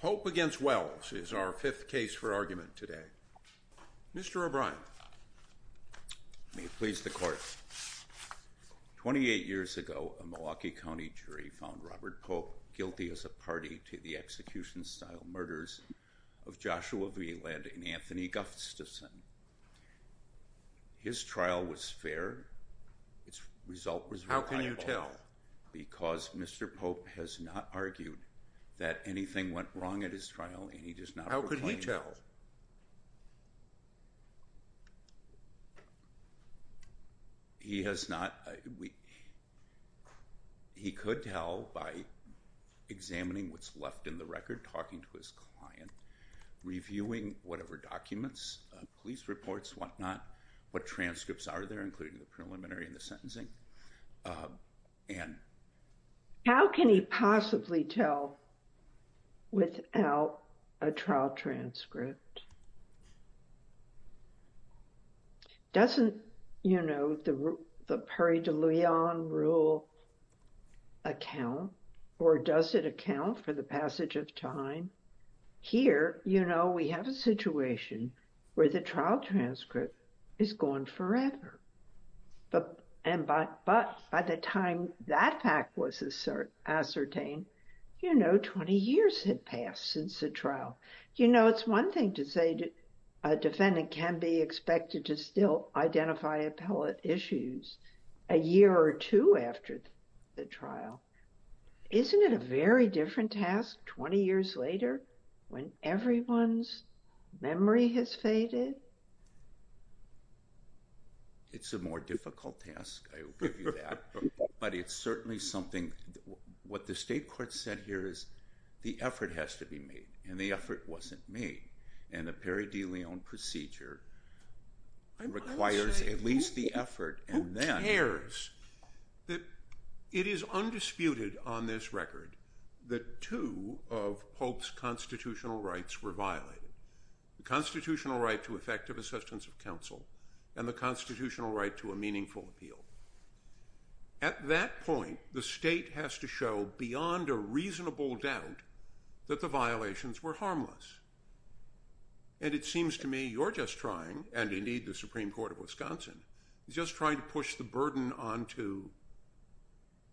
Pope v. Wells is our fifth case for argument today. Mr. O'Brien. May it please the Court. Twenty-eight years ago, a Milwaukee County jury found Robert Pope guilty as a party to the execution-style murders of Joshua V. Lead and Anthony Gustafson. His trial was fair. Its result was reliable. How can you tell? Because Mr. Pope has not argued that anything went wrong at his trial, and he does not proclaim it. How could he tell? He has not. He could tell by examining what's left in the record, talking to his client, reviewing whatever documents, police reports, whatnot, what transcripts are there, including the preliminary and the sentencing. Anne. How can he possibly tell without a trial transcript? Doesn't, you know, the Paris de Lyon rule account, or does it account for the passage of time? Here, you know, we have a situation where the trial transcript is gone forever. But by the time that fact was ascertained, you know, 20 years had passed since the trial. You know, it's one thing to say a defendant can be expected to still identify appellate issues a year or two after the trial. Isn't it a very different task 20 years later when everyone's memory has faded? It's a more difficult task, I will give you that. But it's certainly something. What the state court said here is the effort has to be made, and the effort wasn't made. And the Paris de Lyon procedure requires at least the effort. Who cares that it is undisputed on this record that two of Pope's constitutional rights were violated, the constitutional right to effective assistance of counsel and the constitutional right to a meaningful appeal. At that point, the state has to show beyond a reasonable doubt that the violations were harmless. And it seems to me you're just trying, and indeed the Supreme Court of Wisconsin, is just trying to push the burden onto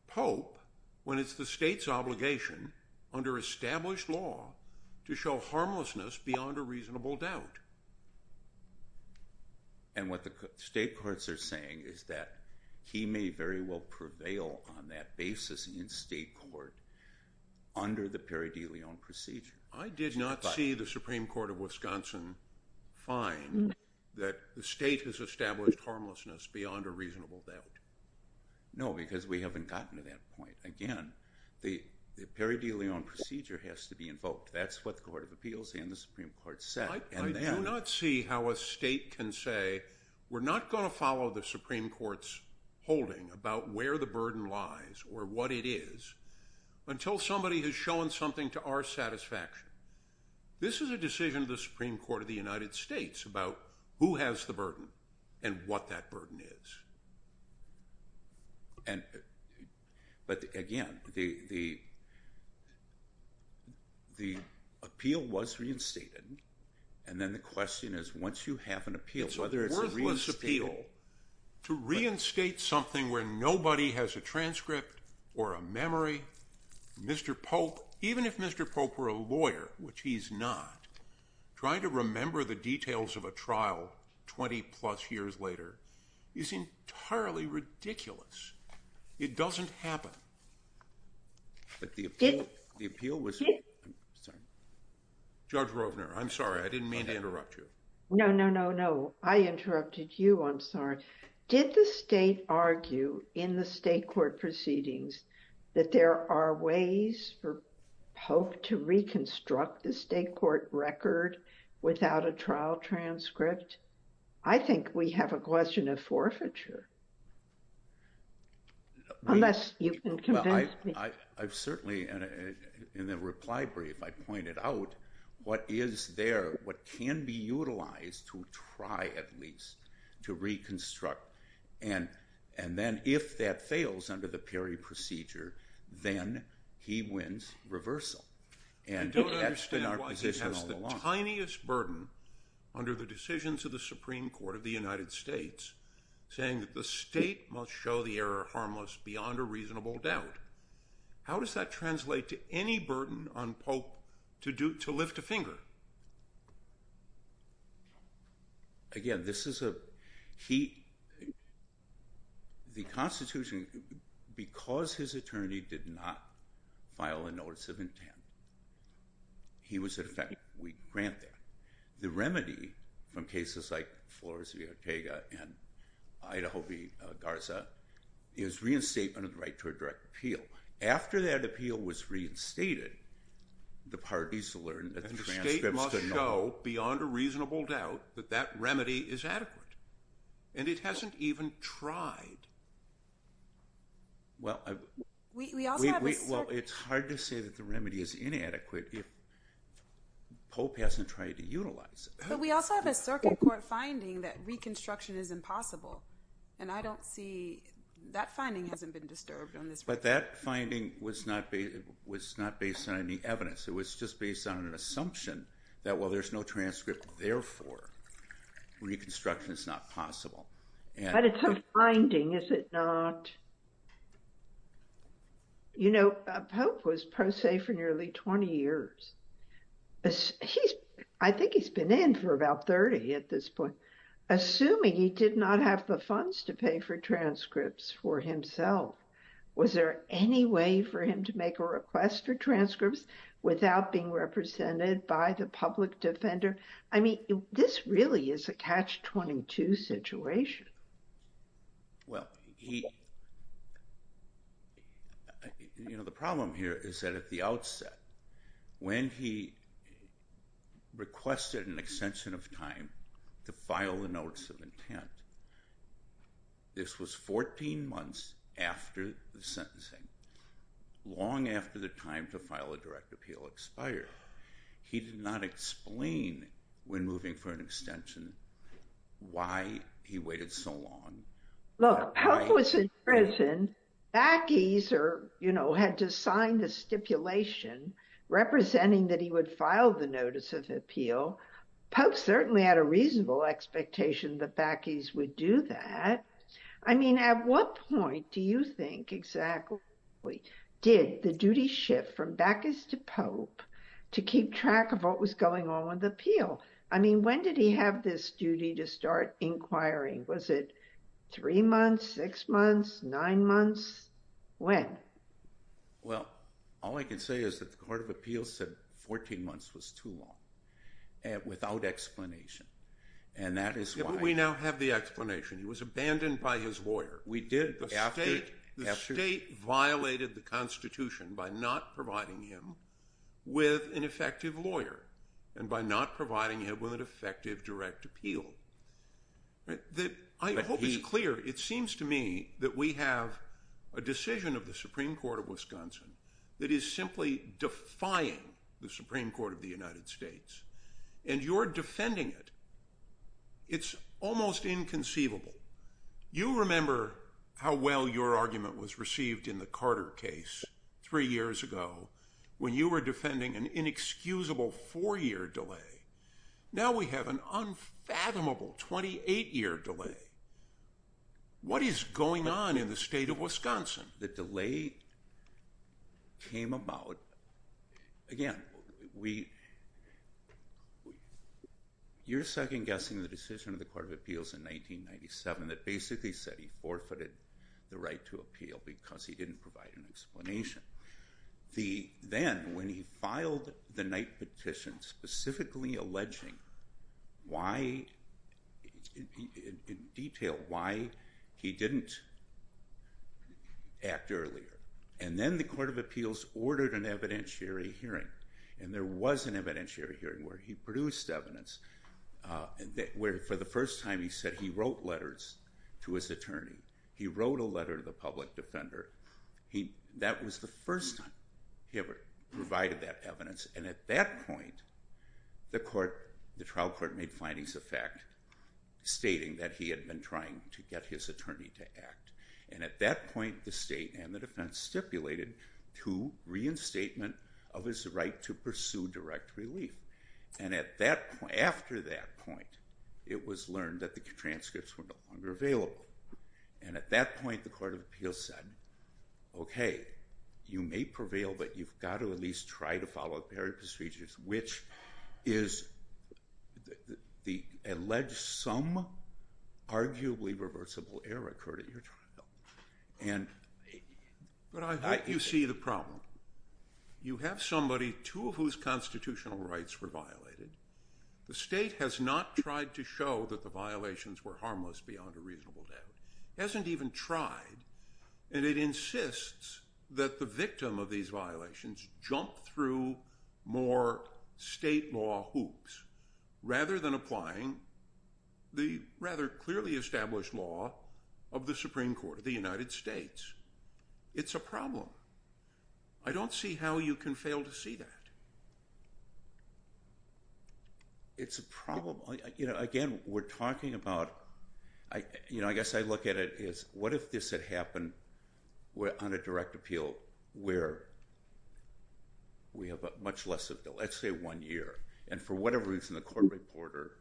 Pope when it's the state's obligation under established law to show harmlessness beyond a reasonable doubt. And what the state courts are saying is that he may very well prevail on that basis in state court under the Paris de Lyon procedure. I did not see the Supreme Court of Wisconsin find that the state has established harmlessness beyond a reasonable doubt. No, because we haven't gotten to that point. Again, the Paris de Lyon procedure has to be invoked. That's what the Court of Appeals and the Supreme Court said. I do not see how a state can say we're not going to follow the Supreme Court's holding about where the burden lies or what it is until somebody has shown something to our satisfaction. This is a decision of the Supreme Court of the United States about who has the burden and what that burden is. But again, the appeal was reinstated, and then the question is once you have an appeal, it's a worthless appeal to reinstate something where nobody has a transcript or a memory. Mr. Pope, even if Mr. Pope were a lawyer, which he's not, trying to remember the details of a trial 20 plus years later is entirely ridiculous. It doesn't happen. But the appeal was... Judge Rovner, I'm sorry. I didn't mean to interrupt you. No, no, no, no. I interrupted you. I'm sorry. Did the state argue in the state court proceedings that there are ways for Pope to reconstruct the state court record without a trial transcript? I think we have a question of forfeiture, unless you can convince me. In the reply brief, I pointed out what is there, what can be utilized to try at least to reconstruct, and then if that fails under the Perry procedure, then he wins reversal. I don't understand why he has the tiniest burden under the decisions of the Supreme Court of the United States saying that the state must show the error harmless beyond a reasonable doubt. How does that translate to any burden on Pope to lift a finger? Again, this is a... The Constitution, because his attorney did not file a notice of intent, he was in effect weak granted. The remedy from cases like Flores v. Ortega and Idaho v. Garza is reinstatement of the right to a direct appeal. After that appeal was reinstated, the parties learned that the transcripts could not... And the state must show beyond a reasonable doubt that that remedy is adequate, and it hasn't even tried. Well, it's hard to say that the remedy is inadequate if Pope hasn't tried to utilize it. But we also have a circuit court finding that reconstruction is impossible, and I don't see... That finding hasn't been disturbed on this one. But that finding was not based on any evidence. It was just based on an assumption that, well, there's no transcript, therefore reconstruction is not possible. But it's a finding, is it not? You know, Pope was pro se for nearly 20 years. I think he's been in for about 30 at this point. Assuming he did not have the funds to pay for transcripts for himself, was there any way for him to make a request for transcripts without being represented by the public defender? I mean, this really is a catch-22 situation. Well, he... You know, the problem here is that at the outset, when he requested an extension of time to file the notice of intent, this was 14 months after the sentencing, long after the time to file a direct appeal expired. He did not explain, when moving for an extension, why he waited so long. Look, Pope was in prison. Bacchus, you know, had to sign the stipulation representing that he would file the notice of appeal. Pope certainly had a reasonable expectation that Bacchus would do that. I mean, at what point do you think exactly did the duty shift from Bacchus to Pope to keep track of what was going on with the appeal? I mean, when did he have this duty to start inquiring? Was it three months, six months, nine months? When? Well, all I can say is that the Court of Appeals said 14 months was too long without explanation. And that is why... We did after... The state violated the Constitution by not providing him with an effective lawyer and by not providing him with an effective direct appeal. I hope it's clear. It seems to me that we have a decision of the Supreme Court of Wisconsin that is simply defying the Supreme Court of the United States. And you're defending it. It's almost inconceivable. You remember how well your argument was received in the Carter case three years ago when you were defending an inexcusable four-year delay. Now we have an unfathomable 28-year delay. What is going on in the state of Wisconsin? The delay came about... We... You're second-guessing the decision of the Court of Appeals in 1997 that basically said he forfeited the right to appeal because he didn't provide an explanation. Then, when he filed the night petition specifically alleging why... In detail, why he didn't act earlier. And then the Court of Appeals ordered an evidentiary hearing. And there was an evidentiary hearing where he produced evidence where, for the first time, he said he wrote letters to his attorney. He wrote a letter to the public defender. That was the first time he ever provided that evidence. And at that point, the trial court made findings of fact stating that he had been trying to get his attorney to act. And at that point, the state and the defense stipulated to reinstatement of his right to pursue direct relief. And after that point, it was learned that the transcripts were no longer available. And at that point, the Court of Appeals said, Okay, you may prevail, but you've got to at least try to follow the period procedures, which is the alleged sum, arguably reversible error occurred at your trial. But I hope you see the problem. You have somebody, two of whose constitutional rights were violated. The state has not tried to show that the violations were harmless beyond a reasonable doubt. It hasn't even tried, and it insists that the victim of these violations jump through more state law hoops, rather than applying the rather clearly established law of the Supreme Court of the United States. It's a problem. I don't see how you can fail to see that. It's a problem. Again, we're talking about, I guess I look at it as, what if this had happened on a direct appeal where we have much less of the, let's say, one year. And for whatever reason, the court reporter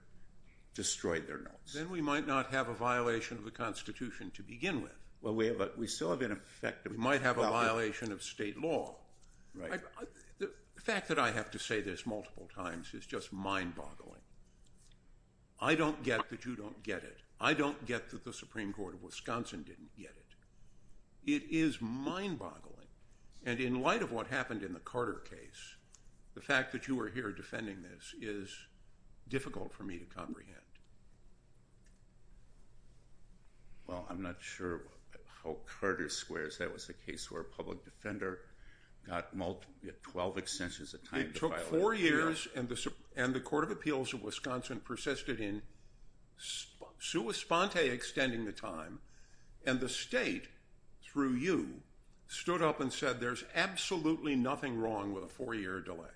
destroyed their notes. Then we might not have a violation of the Constitution to begin with. Well, we still have an effect. We might have a violation of state law. The fact that I have to say this multiple times is just mind-boggling. I don't get that you don't get it. I don't get that the Supreme Court of Wisconsin didn't get it. It is mind-boggling. And in light of what happened in the Carter case, the fact that you are here defending this is difficult for me to comprehend. Well, I'm not sure how Carter squares. That was the case where a public defender got 12 extensions of time to file a complaint. It took four years, and the Court of Appeals of Wisconsin persisted in sua sponte extending the time. And the state, through you, stood up and said there's absolutely nothing wrong with a four-year delay.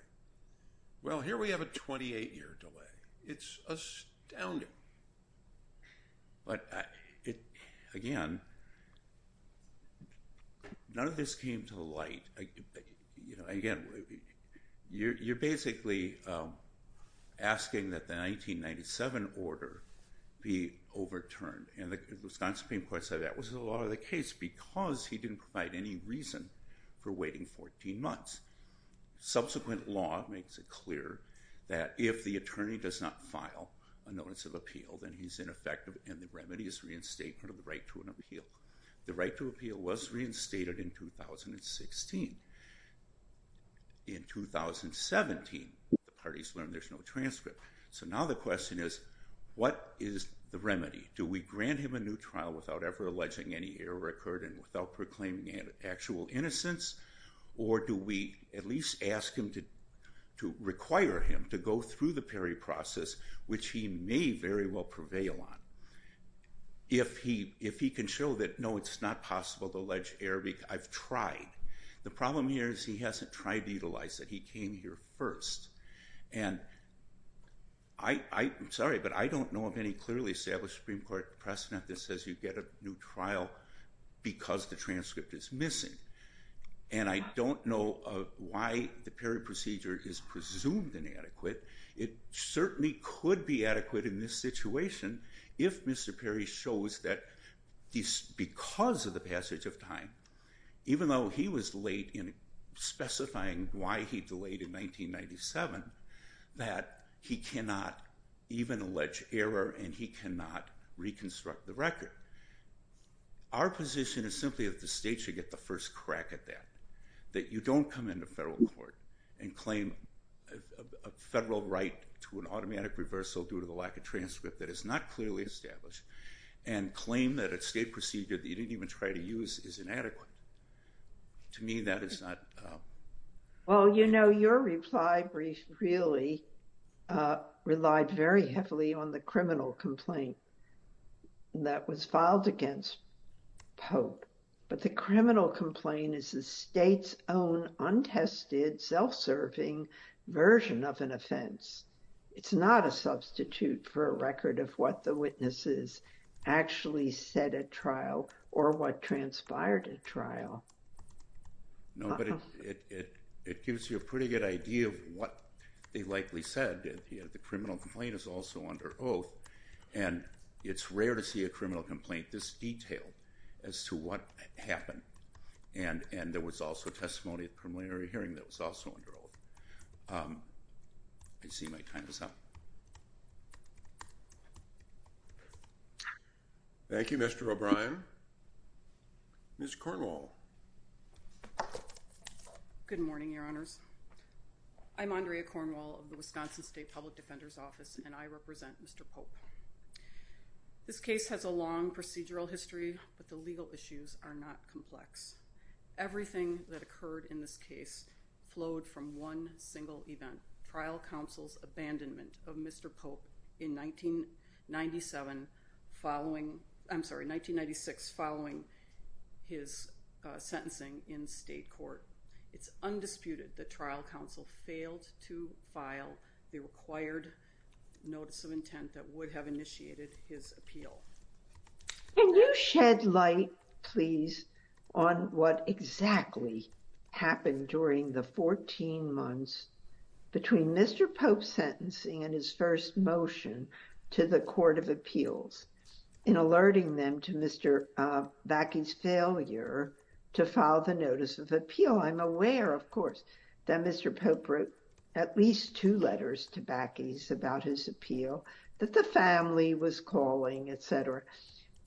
Well, here we have a 28-year delay. It's astounding. But, again, none of this came to light. Again, you're basically asking that the 1997 order be overturned. And the Wisconsin Supreme Court said that was the law of the case because he didn't provide any reason for waiting 14 months. Subsequent law makes it clear that if the attorney does not file a notice of appeal, then he's ineffective, and the remedy is reinstatement of the right to an appeal. The right to appeal was reinstated in 2016. In 2017, the parties learned there's no transcript. So now the question is, what is the remedy? Do we grant him a new trial without ever alleging any error occurred and without proclaiming actual innocence? Or do we at least ask him to require him to go through the Perry process, which he may very well prevail on? If he can show that, no, it's not possible to allege error, I've tried. The problem here is he hasn't tried to utilize it. He came here first. And I'm sorry, but I don't know of any clearly established Supreme Court precedent that says you get a new trial because the transcript is missing. And I don't know why the Perry procedure is presumed inadequate. It certainly could be adequate in this situation if Mr. Perry shows that because of the passage of time, even though he was late in specifying why he delayed in 1997, that he cannot even allege error and he cannot reconstruct the record. Our position is simply that the state should get the first crack at that, that you don't come into federal court and claim a federal right to an automatic reversal due to the lack of transcript that is not clearly established and claim that a state procedure that you didn't even try to use is inadequate. To me, that is not... Well, you know, your reply really relied very heavily on the criminal complaint that was filed against Pope. But the criminal complaint is the state's own untested, self-serving version of an offense. It's not a substitute for a record of what the witnesses actually said at trial or what transpired at trial. No, but it gives you a pretty good idea of what they likely said. The criminal complaint is also under oath, and it's rare to see a criminal complaint this detailed as to what happened. And there was also testimony at the preliminary hearing that was also under oath. I see my time is up. Thank you, Mr. O'Brien. Ms. Cornwall. Good morning, Your Honors. I'm Andrea Cornwall of the Wisconsin State Public Defender's Office, and I represent Mr. Pope. This case has a long procedural history, but the legal issues are not complex. Everything that occurred in this case flowed from one single event, trial counsel's abandonment of Mr. Pope in 1997 following—I'm sorry, 1996, following his sentencing in state court. It's undisputed that trial counsel failed to file the required notice of intent that would have initiated his appeal. Can you shed light, please, on what exactly happened during the 14 months between Mr. Pope's sentencing and his first motion to the Court of Appeals in alerting them to Mr. Backey's failure to file the notice of appeal? Well, I'm aware, of course, that Mr. Pope wrote at least two letters to Backey's about his appeal, that the family was calling, etc.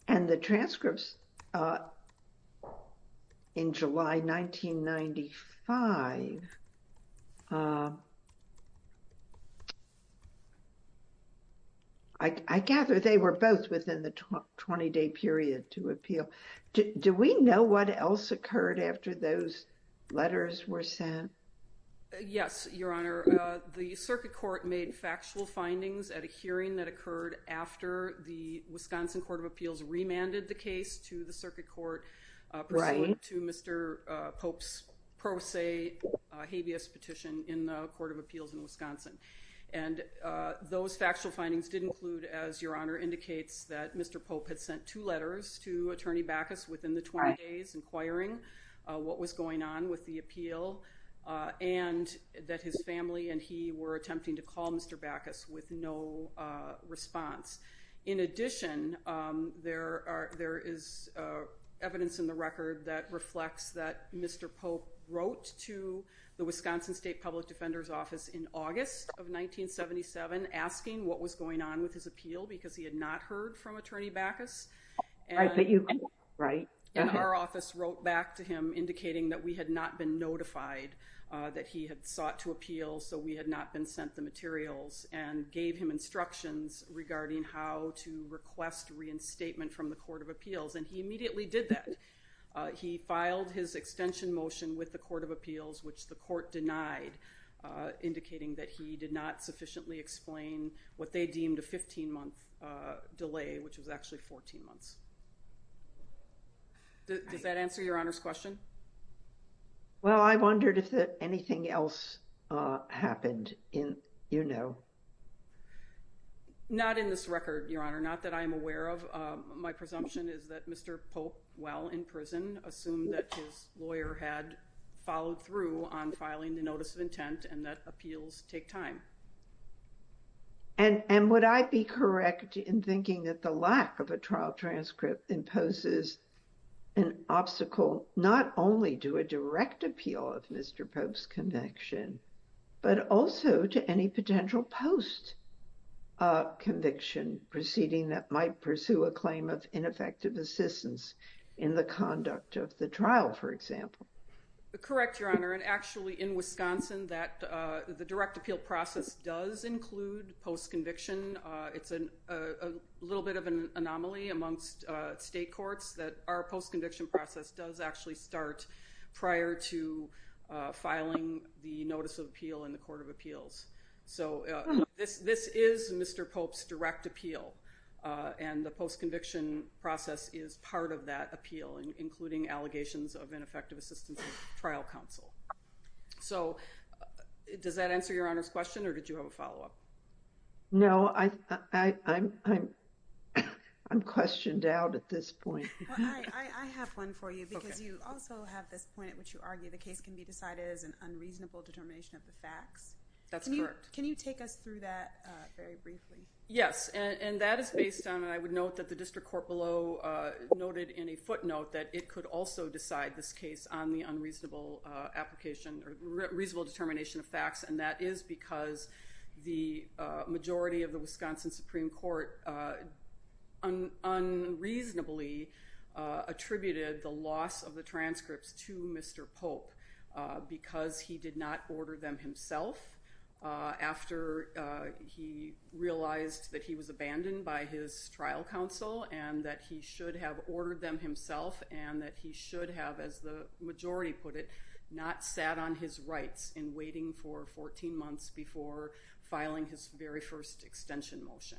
And the transcripts in July 1995, I gather they were both within the 20-day period to appeal. Do we know what else occurred after those letters were sent? Yes, Your Honor. The circuit court made factual findings at a hearing that occurred after the Wisconsin Court of Appeals remanded the case to the circuit court— Right. —pursuant to Mr. Pope's pro se habeas petition in the Court of Appeals in Wisconsin. And those factual findings did include, as Your Honor indicates, that Mr. Pope had sent two letters to Attorney Backus within the 20 days inquiring what was going on with the appeal, and that his family and he were attempting to call Mr. Backus with no response. In addition, there is evidence in the record that reflects that Mr. Pope wrote to the Wisconsin State Public Defender's Office in August of 1977, asking what was going on with his appeal because he had not heard from Attorney Backus. Right. And our office wrote back to him indicating that we had not been notified that he had sought to appeal, so we had not been sent the materials, and gave him instructions regarding how to request reinstatement from the Court of Appeals. And he immediately did that. He filed his extension motion with the Court of Appeals, which the court denied, indicating that he did not sufficiently explain what they deemed a 15-month delay, which was actually 14 months. Does that answer Your Honor's question? Well, I wondered if anything else happened, you know. Not in this record, Your Honor. Not that I'm aware of. My presumption is that Mr. Pope, while in prison, assumed that his lawyer had followed through on filing the notice of intent and that appeals take time. And would I be correct in thinking that the lack of a trial transcript imposes an obstacle not only to a direct appeal of Mr. Pope's conviction, but also to any potential post-conviction proceeding that might pursue a claim of ineffective assistance in the conduct of the trial, for example? Correct, Your Honor. And actually, in Wisconsin, the direct appeal process does include post-conviction. It's a little bit of an anomaly amongst state courts that our post-conviction process does actually start prior to filing the notice of appeal in the Court of Appeals. So this is Mr. Pope's direct appeal, and the post-conviction process is part of that appeal, including allegations of ineffective assistance in trial counsel. So does that answer Your Honor's question, or did you have a follow-up? No, I'm questioned out at this point. Well, I have one for you, because you also have this point at which you argue the case can be decided as an unreasonable determination of the facts. That's correct. Can you take us through that very briefly? Yes, and that is based on, and I would note that the district court below noted in a footnote that it could also decide this case on the unreasonable determination of facts, and that is because the majority of the Wisconsin Supreme Court unreasonably attributed the loss of the transcripts to Mr. Pope because he did not order them himself after he realized that he was abandoned by his trial counsel, and that he should have ordered them himself, and that he should have, as the majority put it, not sat on his rights in waiting for 14 months before filing his very first extension motion.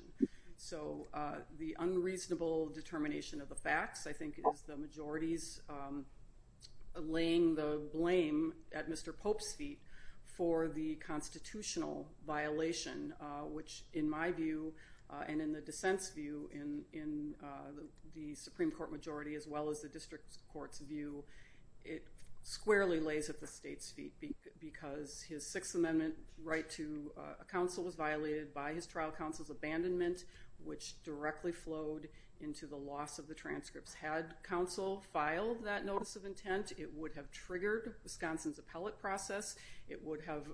So the unreasonable determination of the facts, I think, is the majority's laying the blame at Mr. Pope's feet for the constitutional violation, which in my view and in the dissent's view in the Supreme Court majority as well as the district court's view, it squarely lays at the state's feet because his Sixth Amendment right to counsel was violated by his trial counsel's abandonment, which directly flowed into the loss of the transcripts. Had counsel filed that notice of intent, it would have triggered Wisconsin's appellate process. It would have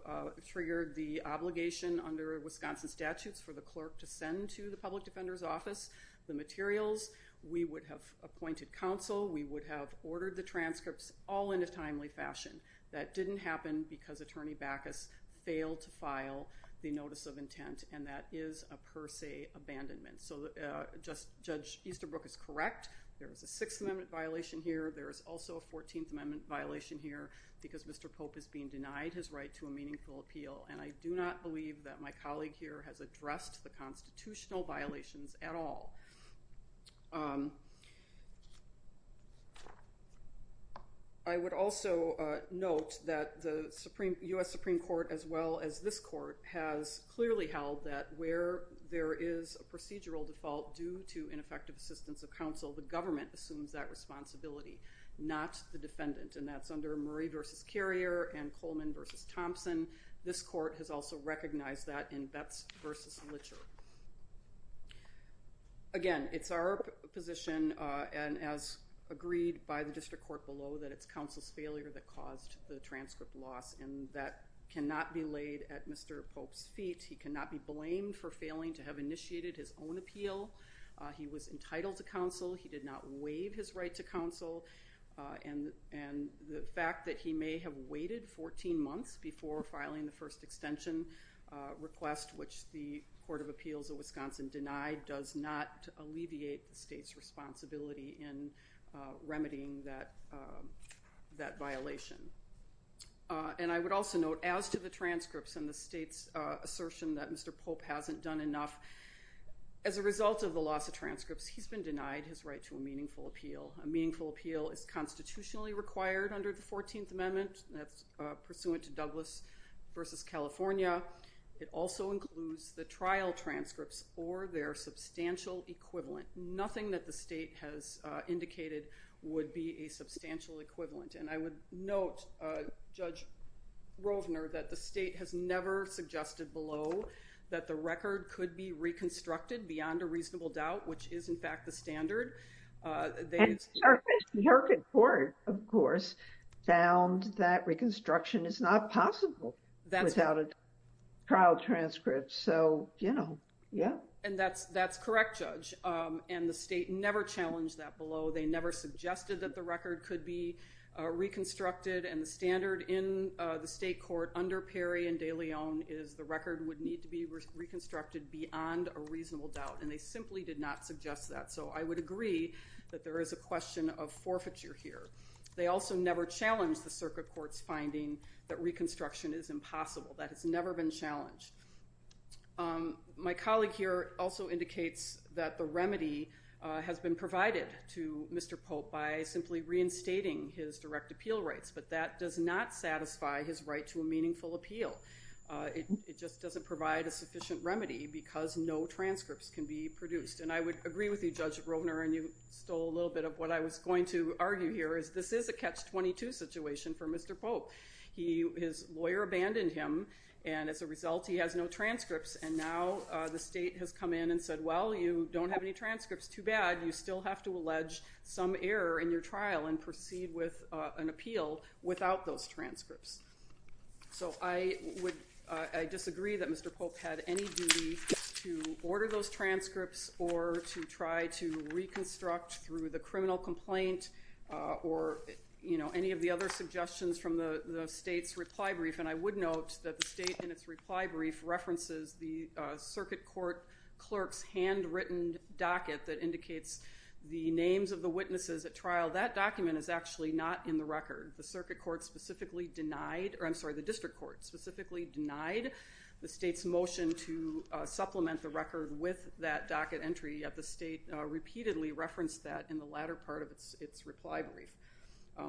triggered the obligation under Wisconsin statutes for the clerk to send to the public defender's office the materials. We would have appointed counsel. We would have ordered the transcripts all in a timely fashion. That didn't happen because Attorney Bacchus failed to file the notice of intent, and that is a per se abandonment. So Judge Easterbrook is correct. There is a Sixth Amendment violation here. There is also a Fourteenth Amendment violation here because Mr. Pope is being denied his right to a meaningful appeal, and I do not believe that my colleague here has addressed the constitutional violations at all. I would also note that the U.S. Supreme Court, as well as this court, has clearly held that where there is a procedural default due to ineffective assistance of counsel, the government assumes that responsibility, not the defendant. And that's under Murray v. Carrier and Coleman v. Thompson. This court has also recognized that in Betz v. Litcher. Again, it's our position, and as agreed by the district court below, that it's counsel's failure that caused the transcript loss, and that cannot be laid at Mr. Pope's feet. He cannot be blamed for failing to have initiated his own appeal. He was entitled to counsel. He did not waive his right to counsel, and the fact that he may have waited 14 months before filing the first extension request, which the Court of Appeals of Wisconsin denied, does not alleviate the state's responsibility in remedying that violation. And I would also note, as to the transcripts and the state's assertion that Mr. Pope hasn't done enough, as a result of the loss of transcripts, he's been denied his right to a meaningful appeal. A meaningful appeal is constitutionally required under the 14th Amendment. That's pursuant to Douglas v. California. It also includes the trial transcripts or their substantial equivalent. Nothing that the state has indicated would be a substantial equivalent. And I would note, Judge Rovner, that the state has never suggested below that the record could be reconstructed beyond a reasonable doubt, which is, in fact, the standard. And our district court, of course, found that reconstruction is not possible without a trial transcript. So, you know, yeah. And that's correct, Judge. And the state never challenged that below. They never suggested that the record could be reconstructed. And the standard in the state court under Perry and de Leon is the record would need to be reconstructed beyond a reasonable doubt. And they simply did not suggest that. So I would agree that there is a question of forfeiture here. They also never challenged the circuit court's finding that reconstruction is impossible. That has never been challenged. My colleague here also indicates that the remedy has been provided to Mr. Pope by simply reinstating his direct appeal rights. But that does not satisfy his right to a meaningful appeal. It just doesn't provide a sufficient remedy because no transcripts can be produced. And I would agree with you, Judge Rovner, and you stole a little bit of what I was going to argue here, is this is a catch-22 situation for Mr. Pope. His lawyer abandoned him. And as a result, he has no transcripts. And now the state has come in and said, well, you don't have any transcripts. Too bad. You still have to allege some error in your trial and proceed with an appeal without those transcripts. So I disagree that Mr. Pope had any duty to order those transcripts or to try to reconstruct through the criminal complaint or, you know, any of the other suggestions from the state's reply brief. And I would note that the state in its reply brief references the circuit court clerk's handwritten docket that indicates the names of the witnesses at trial. That document is actually not in the record. The circuit court specifically denied, or I'm sorry, the district court specifically denied the state's motion to supplement the record with that docket entry. Yet the state repeatedly referenced that in the latter part of its reply brief.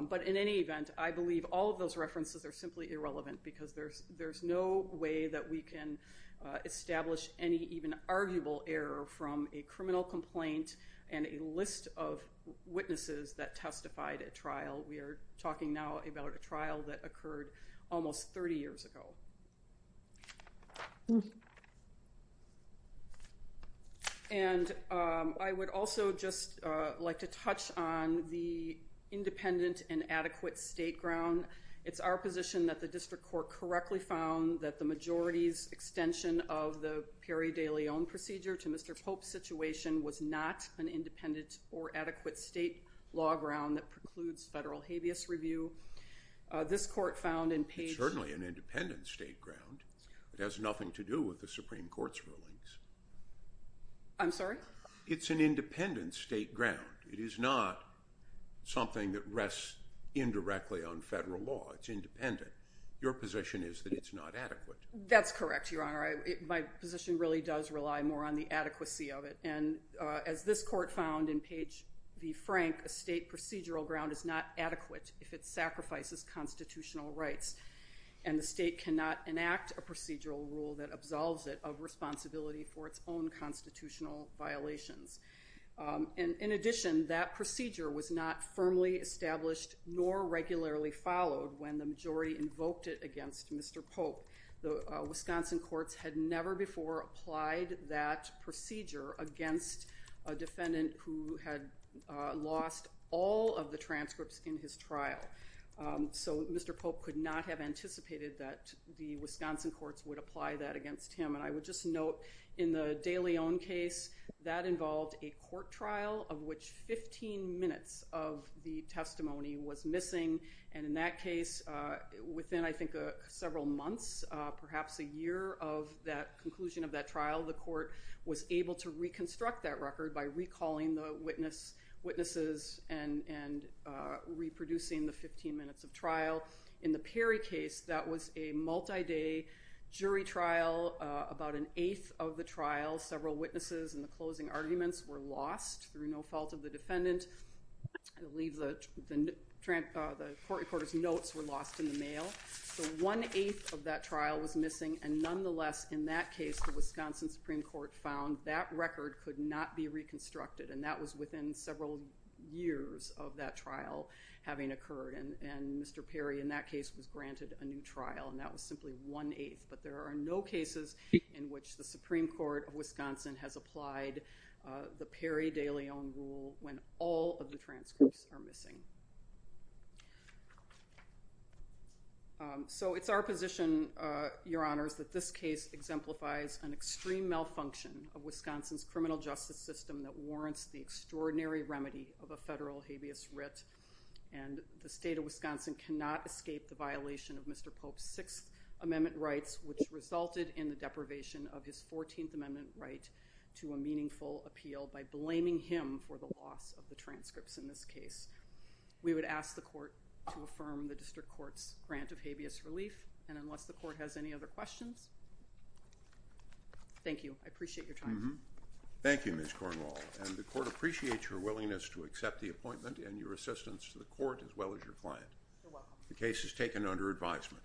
But in any event, I believe all of those references are simply irrelevant because there's no way that we can establish any even arguable error from a criminal complaint and a list of witnesses that testified at trial. We are talking now about a trial that occurred almost 30 years ago. And I would also just like to touch on the independent and adequate state ground. It's our position that the district court correctly found that the majority's extension of the Perry de Leon procedure to Mr. Pope's situation was not an independent or adequate state law ground that precludes federal habeas review. This court found in page... It's certainly an independent state ground. It has nothing to do with the Supreme Court's rulings. I'm sorry? It's an independent state ground. It is not something that rests indirectly on federal law. It's independent. Your position is that it's not adequate. That's correct, Your Honor. My position really does rely more on the adequacy of it. And as this court found in page V. Frank, a state procedural ground is not adequate if it sacrifices constitutional rights. And the state cannot enact a procedural rule that absolves it of responsibility for its own constitutional violations. In addition, that procedure was not firmly established nor regularly followed when the majority invoked it against Mr. Pope. The Wisconsin courts had never before applied that procedure against a defendant who had lost all of the transcripts in his trial. So Mr. Pope could not have anticipated that the Wisconsin courts would apply that against him. And I would just note in the de Leon case, that involved a court trial of which 15 minutes of the testimony was missing. And in that case, within I think several months, perhaps a year of that conclusion of that trial, the court was able to reconstruct that record by recalling the witnesses and reproducing the 15 minutes of trial. In the Perry case, that was a multi-day jury trial. About an eighth of the trial, several witnesses and the closing arguments were lost through no fault of the defendant. I believe the court reporter's notes were lost in the mail. So one-eighth of that trial was missing. And nonetheless, in that case, the Wisconsin Supreme Court found that record could not be reconstructed. And that was within several years of that trial having occurred. And Mr. Perry, in that case, was granted a new trial. And that was simply one-eighth. But there are no cases in which the Supreme Court of Wisconsin has applied the Perry de Leon rule when all of the transcripts are missing. So it's our position, Your Honors, that this case exemplifies an extreme malfunction of Wisconsin's criminal justice system that warrants the extraordinary remedy of a federal habeas writ. And the state of Wisconsin cannot escape the violation of Mr. Pope's Sixth Amendment rights, which resulted in the deprivation of his Fourteenth Amendment right to a meaningful appeal by blaming him for the loss of the transcripts in this case. We would ask the court to affirm the district court's grant of habeas relief. And unless the court has any other questions, thank you. I appreciate your time. Thank you, Ms. Cornwall. And the court appreciates your willingness to accept the appointment and your assistance to the court as well as your client. You're welcome. The case is taken under advisement.